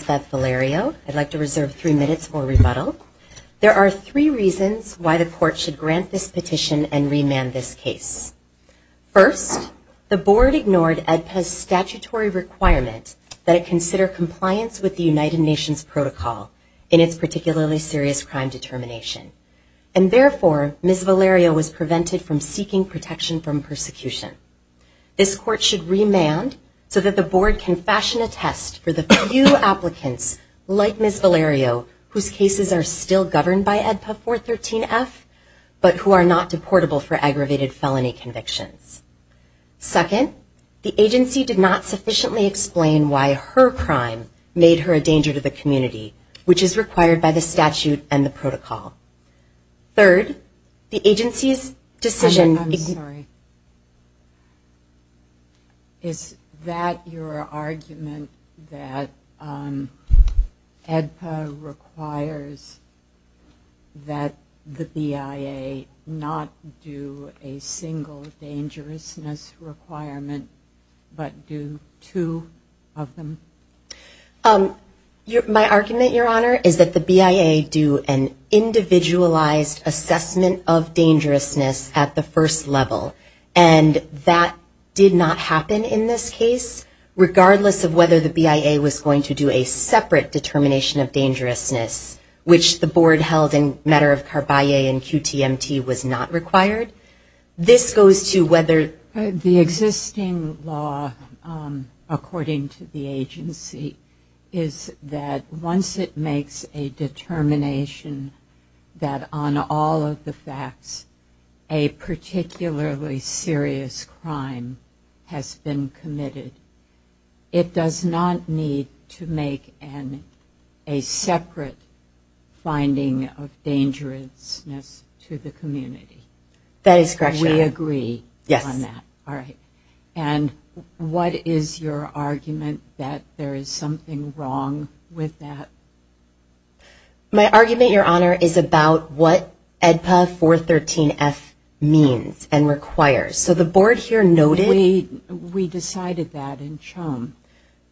Velerio, I'd like to reserve three minutes for rebuttal. There are three reasons why the court should grant this petition and remand this case. First, the board ignored AEDPA's statutory requirement that it consider compliance with the United Nations protocol in its particularly serious crime determination. And therefore, Ms. Velerio was prevented from seeking protection from persecution. This court should remand so that the board can fashion a test for the few applicants, like Ms. Velerio, whose cases are still governed by AEDPA 413-F, but who are not deportable for aggravated felony convictions. Second, the agency did not sufficiently explain why her crime made her a danger to the community, which is required by the statute and the protocol. Third, the agency's decision- sorry, is that your argument that AEDPA requires that the BIA not do a single dangerousness requirement, but do two of them? My argument, Your Honor, is that the BIA do an individualized assessment of dangerousness at the first level. And that did not happen in this case, regardless of whether the BIA was going to do a separate determination of dangerousness, which the board held in matter of Carballe and QTMT was not required. This goes to whether- The existing law, according to the agency, is that once it makes a determination that on all of the facts, a particularly serious crime has been committed, it does not need to make a separate finding of dangerousness to the community. That is correct, Your Honor. We agree on that. All right. And what is your argument that there is something wrong with that? My argument, Your Honor, is about what AEDPA 413F means and requires. So the board here noted- We decided that in Chome.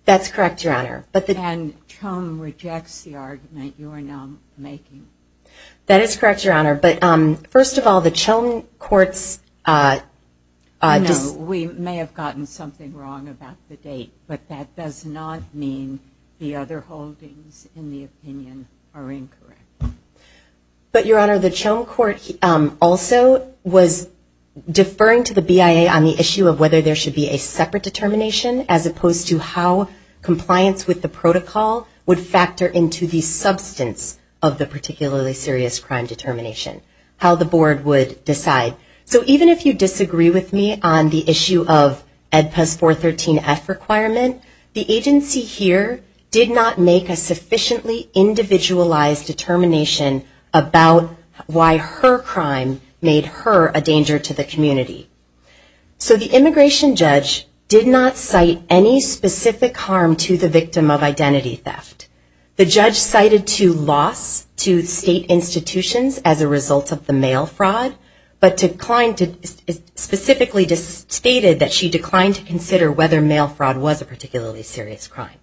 That's correct, Your Honor. And Chome rejects the argument you are now making. That is correct, Your Honor. But first of all, the Chome court's- We may have gotten something wrong about the date. But that does not mean the other holdings in the opinion are incorrect. But, Your Honor, the Chome court also was deferring to the BIA on the issue of whether there should be a separate determination, as opposed to how compliance with the protocol would factor into the substance of the particularly serious crime determination, how the board would decide. So even if you disagree with me on the issue of AEDPA's 413F requirement, the agency here did not make a sufficiently individualized determination about why her crime made her a danger to the community. So the immigration judge did not cite any specific harm to the victim of identity theft. The judge cited to loss to state institutions as a result of the mail fraud, but specifically stated that she declined to consider whether mail fraud was a particularly serious crime.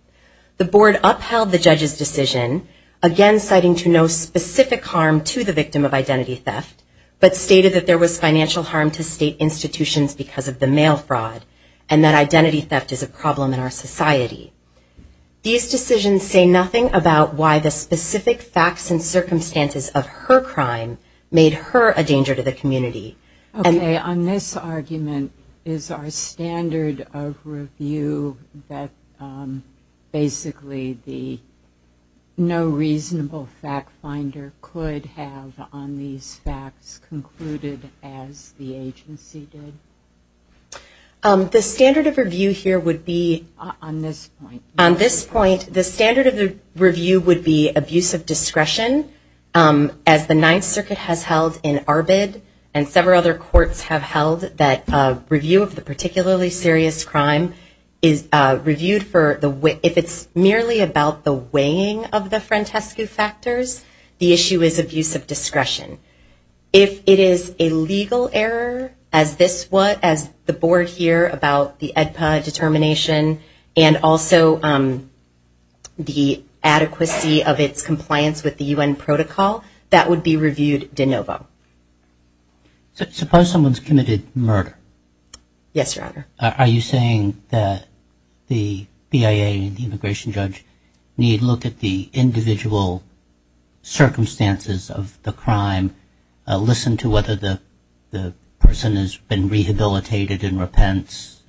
The board upheld the judge's decision, again citing to no specific harm to the victim of identity theft, but stated that there was financial harm to state institutions because of the mail fraud, and that identity theft is a problem in our society. These decisions say nothing about why the specific facts and circumstances of her crime made her a danger to the community. On this argument, is our standard of review that basically the no reasonable fact finder could have on these facts concluded as the agency did? The standard of review here would be on this point. The standard of the review would be abuse of discretion, as the Ninth Circuit has held in Arbid and several other courts have held that review of the particularly serious crime is reviewed if it's merely about the weighing of the Frantescu factors. The issue is abuse of discretion. If it is a legal error, as the board here about the AEDPA determination, and also the adequacy of its compliance with the UN protocol, that would be reviewed de novo. Suppose someone's committed murder. Yes, Your Honor. Are you saying that the BIA and the immigration judge need to look at the individual circumstances of the crime, listen to whether the person has been rehabilitated and repents,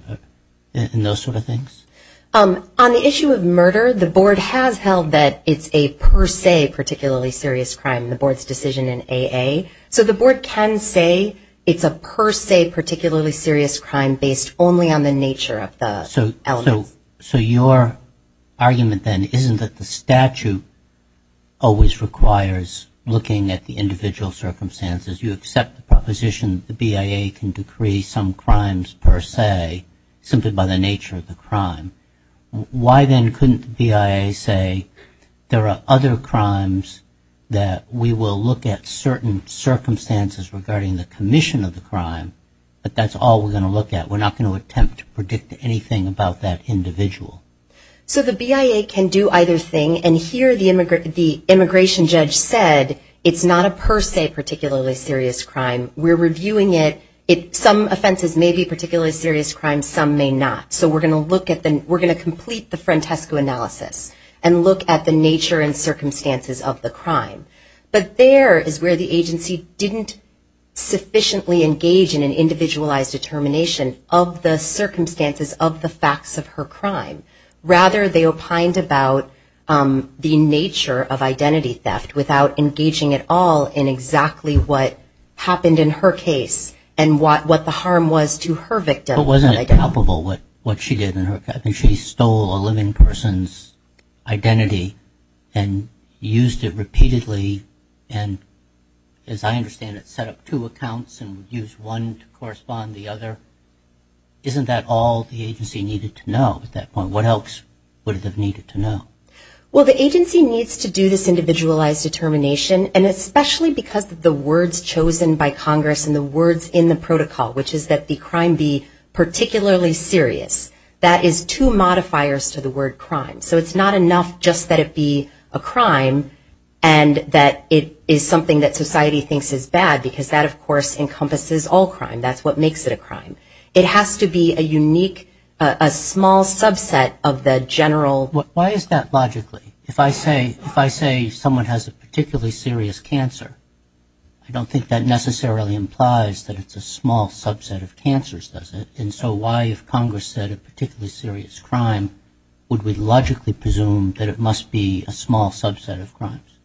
and those sort of things? On the issue of murder, the board has held that it's a per se particularly serious crime in the board's decision in AA. So the board can say it's a per se particularly serious crime based only on the nature of the elements. So your argument then isn't that the statute always requires looking at the individual circumstances. You accept the proposition that the BIA can decree some crimes per se simply by the nature of the crime. Why then couldn't the BIA say there are other crimes that we will look at certain circumstances regarding the commission of the crime, but that's all we're going to look at. We're not going to attempt to predict anything about that individual. So the BIA can do either thing. And here, the immigration judge said, it's not a per se particularly serious crime. We're reviewing it. Some offenses may be particularly serious crime. Some may not. So we're going to complete the Frantesco analysis and look at the nature and circumstances of the crime. But there is where the agency didn't sufficiently engage in an individualized determination of the circumstances of the facts of her crime. Rather, they opined about the nature of identity theft without engaging at all in exactly what happened in her case and what the harm was to her victim. But wasn't it palpable what she did in her case? She stole a living person's identity and used it repeatedly. And as I understand it, set up two accounts and used one to correspond to the other. Isn't that all the agency needed to know at that point? What else would it have needed to know? Well, the agency needs to do this individualized determination, and especially because of the words chosen by Congress and the words in the protocol, which is that the crime be particularly serious. That is two modifiers to the word crime. So it's not enough just that it be a crime and that it is something that society thinks is bad, because that, of course, encompasses all crime. That's what makes it a crime. It has to be a unique, a small subset of the general. Why is that logically? If I say someone has a particularly serious cancer, I don't think that necessarily implies that it's a small subset of cancers, does it? And so why, if Congress said a particularly serious crime, would we logically presume that it must be a small subset of crimes?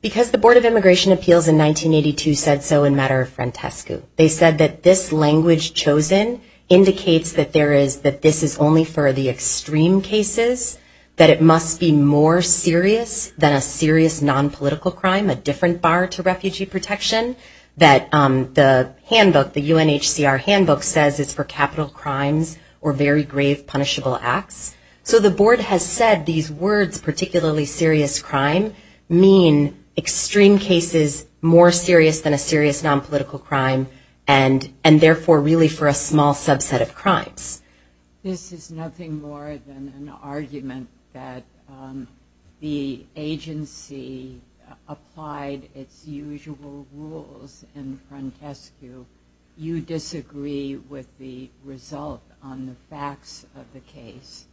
Because the Board of Immigration Appeals in 1982 said so in matter of frantesco. They said that this language chosen indicates that this is only for the extreme cases, that it must be more serious than a serious non-political crime, a different bar to refugee protection, that the handbook, the UNHCR handbook says it's for capital crimes or very grave, punishable acts. So the board has said these words, particularly serious crime, mean extreme cases more serious than a serious non-political crime and, therefore, really for a small subset of crimes. This is nothing more than an argument that the agency applied its usual rules in frantesco. You disagree with the result on the facts of the case.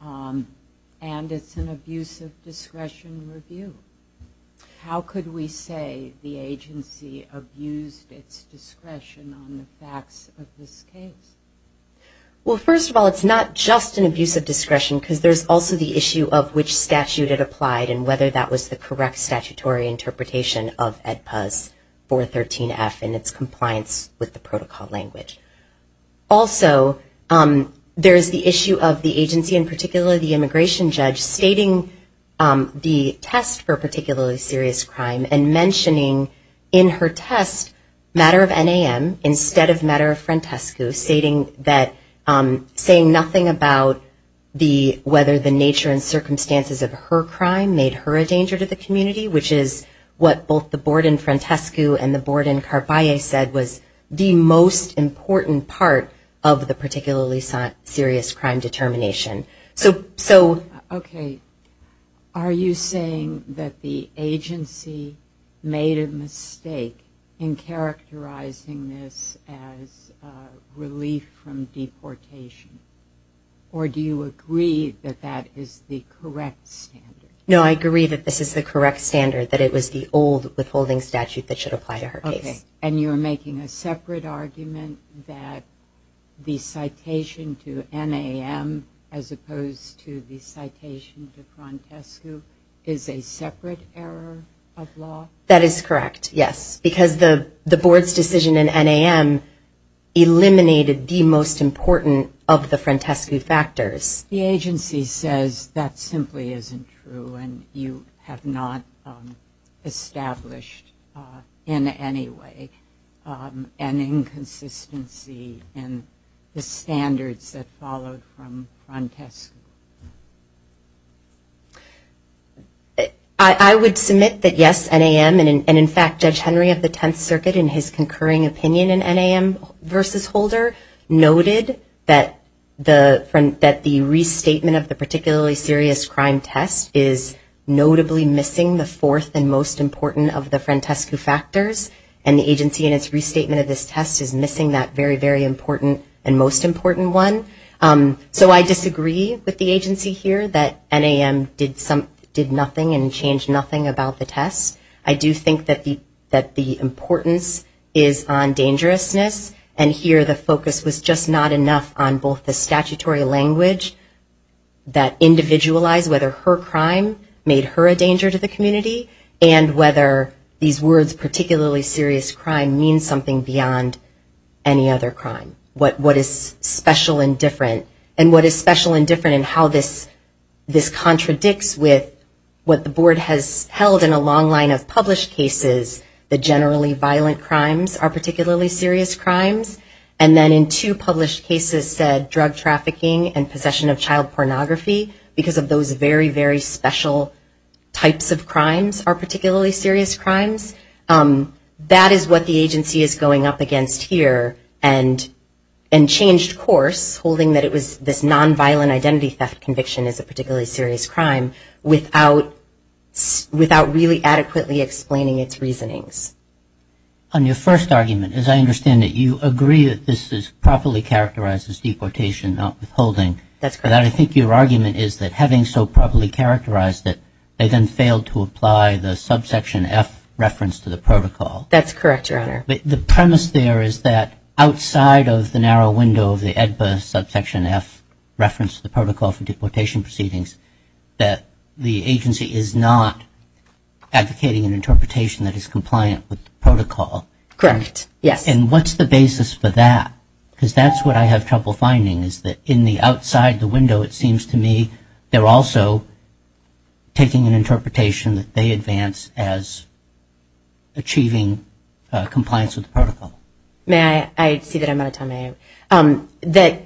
And it's an abuse of discretion review. How could we say the agency abused its discretion on the facts of this case? Well, first of all, it's not just an abuse of discretion because there's also the issue of which statute it applied and whether that was the correct statutory interpretation of EdPAS 413F and its compliance with the protocol language. Also, there is the issue of the agency, in particular the immigration judge, stating the test for particularly serious crime and mentioning in her test matter of NAM instead of matter of frantesco, saying nothing about whether the nature and circumstances of her crime made her a danger to the community, which is what both the board in frantesco and the board in Carvalho said was the most important part of the particularly serious crime determination. OK. Are you saying that the agency made a mistake in characterizing this as relief from deportation? Or do you agree that that is the correct standard? No, I agree that this is the correct standard, that it was the old withholding statute that should apply to her case. And you're making a separate argument that the citation to NAM as opposed to the citation to frantesco is a separate error of law? That is correct, yes. Because the board's decision in NAM eliminated the most important of the frantesco factors. The agency says that simply isn't true, and you have not established in any way an inconsistency in the standards that followed from frantesco. I would submit that yes, NAM, and in fact, Judge Henry of the Tenth Circuit in his concurring opinion in NAM versus Holder noted that the restatement of the particularly serious crime test is notably missing the fourth and most important of the frantesco factors. And the agency in its restatement of this test is missing that very, very important and most important one. So I disagree with the agency here that NAM did nothing and changed nothing about the test. I do think that the importance is on dangerousness, and here the focus was just not enough on both the statutory language that individualized whether her crime made her a danger to the community and whether these words, particularly serious crime, mean something beyond any other crime. What is special and different, and what is special and different in how this contradicts with what the board has held in a long line of published cases, the generally violent crimes are particularly serious crimes. And then in two published cases said drug trafficking and possession of child pornography because of those very, very special types of crimes are particularly serious crimes. That is what the agency is going up against here and changed course, holding that it was this nonviolent identity theft conviction is particularly serious crime without really adequately explaining its reasonings. On your first argument, as I understand it, you agree that this properly characterizes deportation, not withholding. That's correct. I think your argument is that having so properly characterized that they then failed to apply the subsection F reference to the protocol. That's correct, Your Honor. The premise there is that outside of the narrow window of the EDBA subsection F reference to the Protocol for Deportation Proceedings that the agency is not advocating an interpretation that is compliant with the protocol. Correct, yes. And what's the basis for that? Because that's what I have trouble finding is that in the outside the window, it seems to me, they're also taking an interpretation that they advance as achieving compliance with the protocol. May I? I see that I'm out of time. That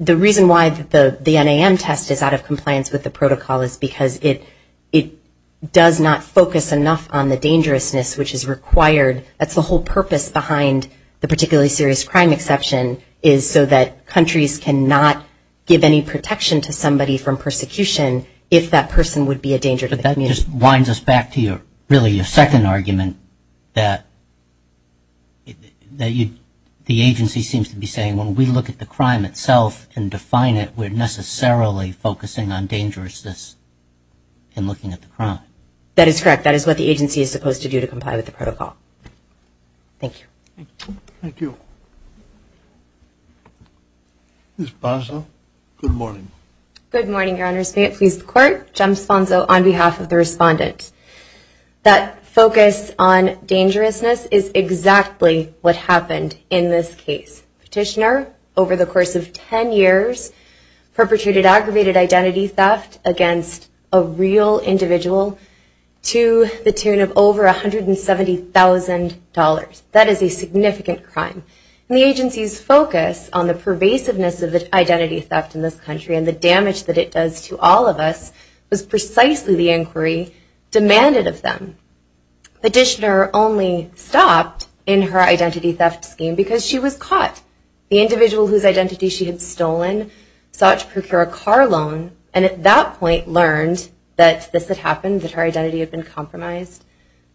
the reason why the NAM test is out of compliance with the protocol is because it does not focus enough on the dangerousness which is required. That's the whole purpose behind the particularly serious crime exception, is so that countries cannot give any protection to somebody from persecution if that person would be a danger to the community. But that just winds us back to really your second argument that the agency seems to be saying, when we look at the crime itself and define it, we're necessarily focusing on dangerousness and looking at the crime. That is correct. That is what the agency is supposed to do to comply with the protocol. Thank you. Thank you. Ms. Bonzo, good morning. Good morning, Your Honors. May it please the Court, Jim Bonzo on behalf of the respondent. That focus on dangerousness is exactly what happened in this case. Petitioner, over the course of 10 years, perpetrated aggravated identity theft against a real individual to the tune of over $170,000. That is a significant crime. The agency's focus on the pervasiveness of the identity theft in this country and the damage that it does to all of us was precisely the inquiry demanded of them. Petitioner only stopped in her identity theft scheme because she was caught. The individual whose identity she had stolen sought to procure a car loan, and at that point learned that this had happened, that her identity had been compromised.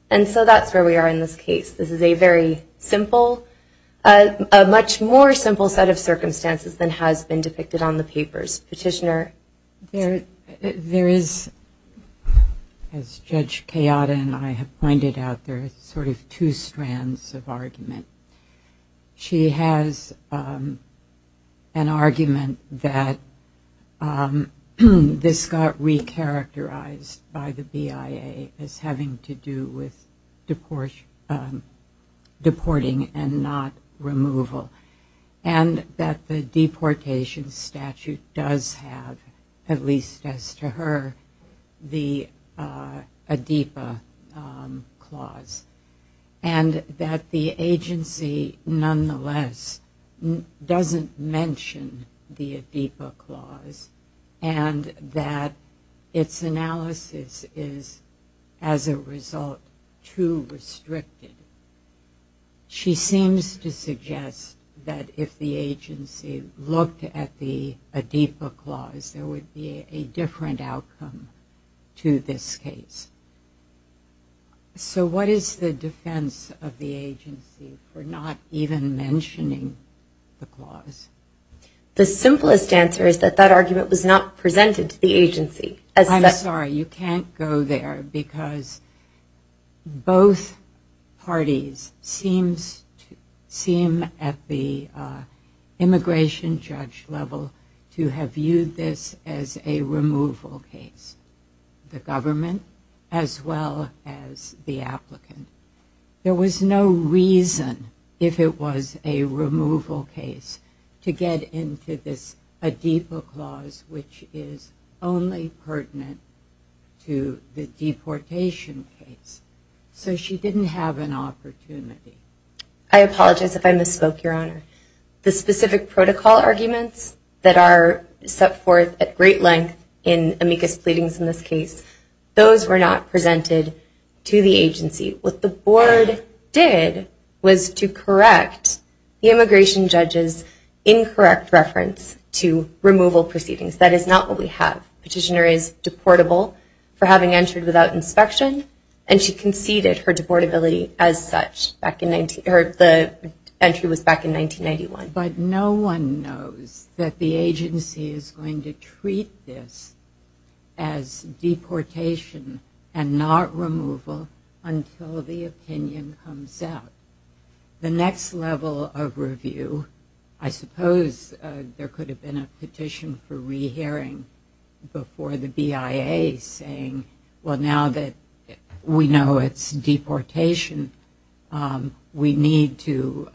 And so that's where we are in this case. This is a very simple, a much more simple set of circumstances than has been depicted on the papers. Petitioner? There is, as Judge Kayada and I have pointed out, there are sort of two strands of argument. She has an argument that this got re-characterized by the BIA as having to do with deporting and not removal, and that the deportation statute does have, at least as to her, the ADEPA clause, and that the agency nonetheless doesn't mention the ADEPA clause, and that its analysis is, as a result, too restricted. She seems to suggest that if the agency looked at the ADEPA clause, there would be a different outcome to this case. So what is the defense of the agency for not even mentioning the clause? The simplest answer is that that argument was not presented to the agency. I'm sorry. You can't go there, because both parties seem at the immigration judge level to have viewed this as a removal case, the government as well as the applicant. There was no reason, if it was a removal case, to get into this ADEPA clause, which is only pertinent to the deportation case. So she didn't have an opportunity. I apologize if I misspoke, Your Honor. The specific protocol arguments that are set forth at great length in amicus pleadings in this case, those were not presented to the agency. What the board did was to correct the immigration judge's incorrect reference to removal proceedings. That is not what we have. Petitioner is deportable for having entered without inspection, and she conceded her deportability as such. The entry was back in 1991. But no one knows that the agency is going to treat this as deportation and not removal until the opinion comes out. The next level of review, I suppose there could have been a petition for rehearing before the BIA saying, well, now that we know it's deportation, we need to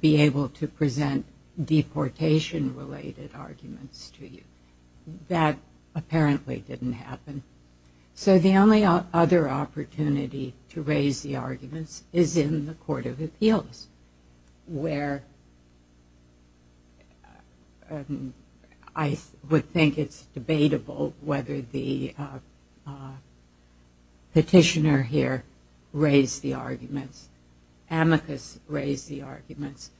be able to present deportation-related arguments to you. That apparently didn't happen. So the only other opportunity to raise the arguments is in the Court of Appeals, where I would think it's debatable whether the petitioner here raised the arguments, amicus raised the arguments.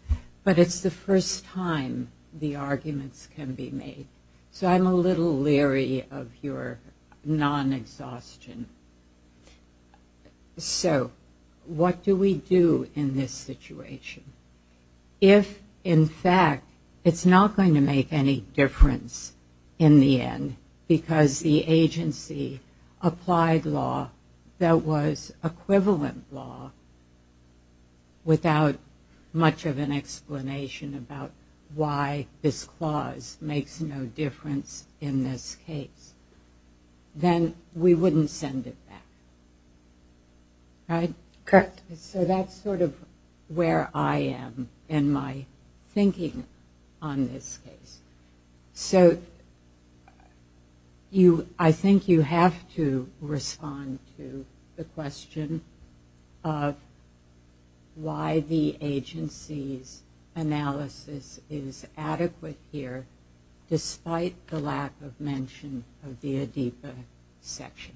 But it's the first time the arguments can be made. So I'm a little leery of your non-exhaustion. So what do we do in this situation? If, in fact, it's not going to make any difference in the end because the agency applied law that was equivalent law without much of an explanation about why this clause makes no difference in this case, then we wouldn't send it back. Right? Correct. So that's sort of where I am in my thinking on this case. So I think you have to respond to the question of why the agency's analysis is adequate here, despite the lack of mention of the ADEPA section.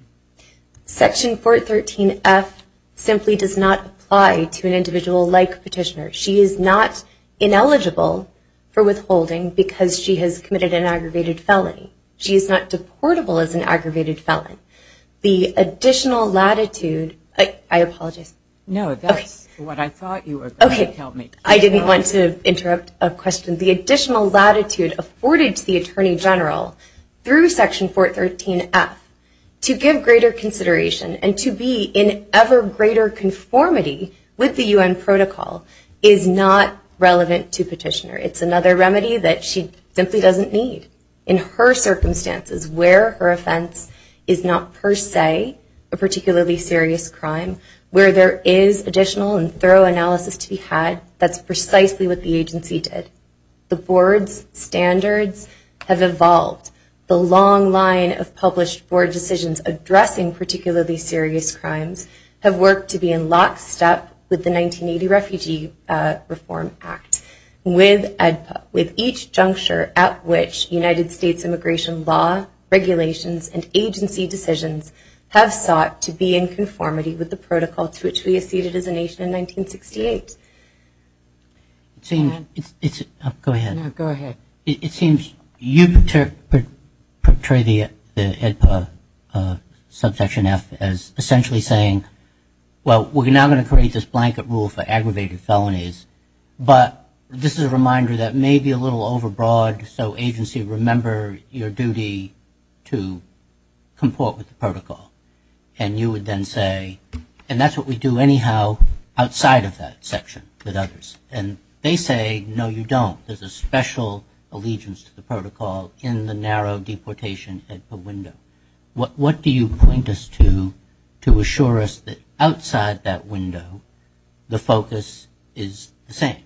Section 413F simply does not apply to an individual-like petitioner. She is not ineligible for withholding because she has committed an aggravated felony. She is not deportable as an aggravated felon. The additional latitude, I apologize. No, that's what I thought you were going to tell me. I didn't want to interrupt a question. The additional latitude afforded to the Attorney General through Section 413F to give greater consideration and to be in ever greater conformity with the UN protocol is not relevant to petitioner. It's another remedy that she simply doesn't need in her circumstances where her offense is not, per se, a particularly serious crime, where there is additional and thorough analysis to be had. That's precisely what the agency did. The board's standards have evolved. The long line of published board decisions addressing particularly serious crimes have worked to be in lockstep with the 1980 Refugee Reform Act, with each juncture at which United States immigration law, regulations, and agency decisions have sought to be in conformity with the protocol to which we acceded as a nation in 1968. Go ahead. No, go ahead. It seems you portray the subsection F as essentially saying, well, we're now going to create this blanket rule for aggravated felonies. But this is a reminder that may be a little overbroad, so agency, remember your duty to comport with the protocol. And you would then say, and that's what we do anyhow outside of that section with others. And they say, no, you don't. There's a special allegiance to the protocol in the narrow deportation window. What do you point us to to assure us that outside that window, the focus is the same?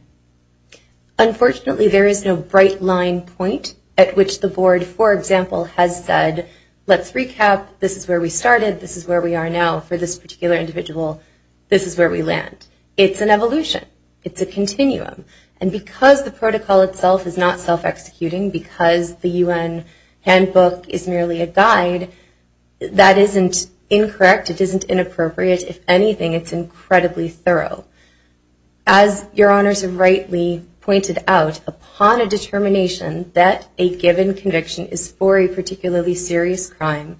Unfortunately, there is no bright line point at which the board, for example, has said, let's recap. This is where we started. This is where we are now. For this particular individual, this is where we land. It's an evolution. It's a continuum. And because the protocol itself is not self-executing, because the UN handbook is merely a guide, that isn't incorrect. It isn't inappropriate. If anything, it's incredibly thorough. As your honors have rightly pointed out, upon a determination that a given conviction is for a particularly serious crime,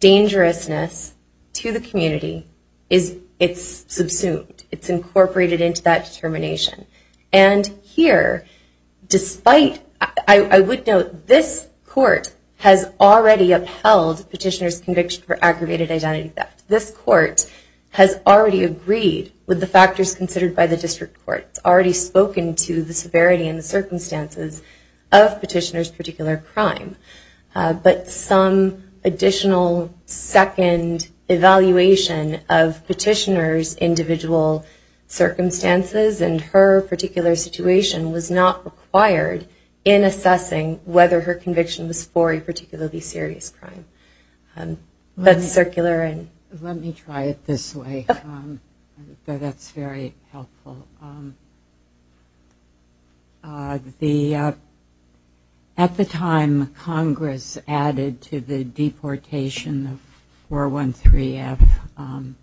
dangerousness to the community, it's subsumed. It's incorporated into that determination. And here, despite, I would note, this court has already upheld petitioner's conviction for aggravated identity theft. This court has already agreed with the factors considered by the district court. It's already spoken to the severity and the circumstances of petitioner's particular crime. But some additional second evaluation of petitioner's individual circumstances and her particular situation was not required in assessing whether her conviction was for a particularly serious crime. That's circular. Let me try it this way. That's very helpful. At the time, Congress added to the deportation of 413F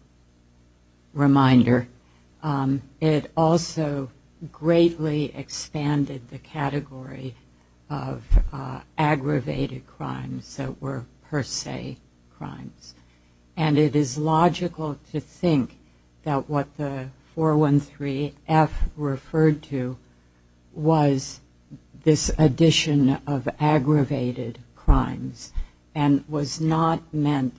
reminder. It also greatly expanded the category of aggravated crimes that were per se crimes. And it is logical to think that what the 413F referred to was this addition of aggravated crimes and was not meant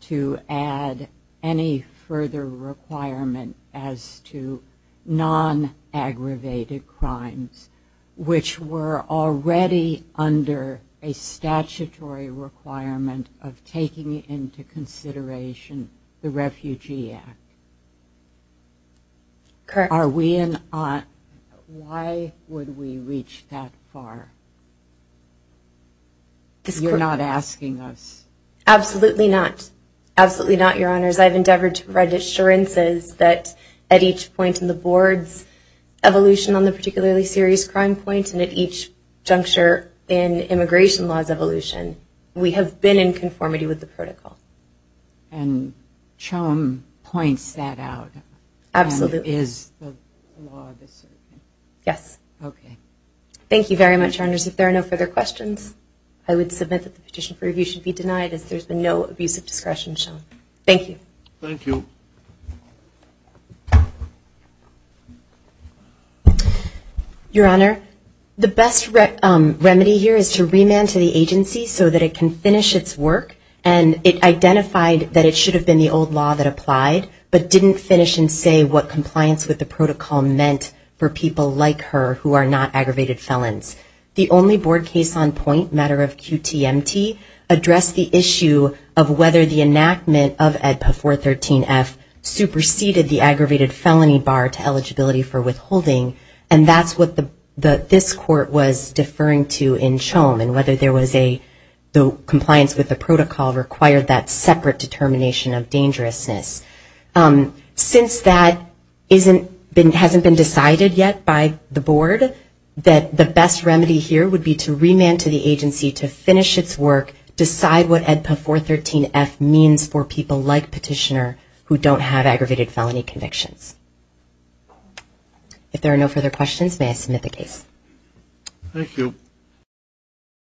to add any further requirement as to non-aggravated crimes, which were already under a statutory requirement of taking into consideration the Refugee Act. Correct. Are we in on why would we reach that far? You're not asking us. Absolutely not. Absolutely not, Your Honors. I've endeavored to provide assurances that at each point in the board's evolution on the particularly serious crime point and at each juncture in immigration law's evolution, we have been in conformity with the protocol. And Chum points that out. Absolutely. And is the law the same? Yes. OK. Thank you very much, Your Honors. If there are no further questions, I would submit that the petition for review should be denied as there's been no abuse of discretion shown. Thank you. Thank you. Your Honor, the best remedy here is to remand to the agency so that it can finish its work. And it identified that it should have been the old law that applied, but didn't finish and say what compliance with the protocol meant for people like her who are not aggravated felons. The only board case on point, matter of QTMT, addressed the issue of whether the enactment of AEDPA 413 as a criminal offense was a crime. And the AEDPA 413-F superseded the aggravated felony bar to eligibility for withholding. And that's what this court was deferring to in Chum and whether the compliance with the protocol required that separate determination of dangerousness. Since that hasn't been decided yet by the board, that the best remedy here would be to remand to the agency to finish its work, decide what AEDPA 413-F means for people like Petitioner who don't have aggravated felony convictions. If there are no further questions, may I submit the case? Thank you.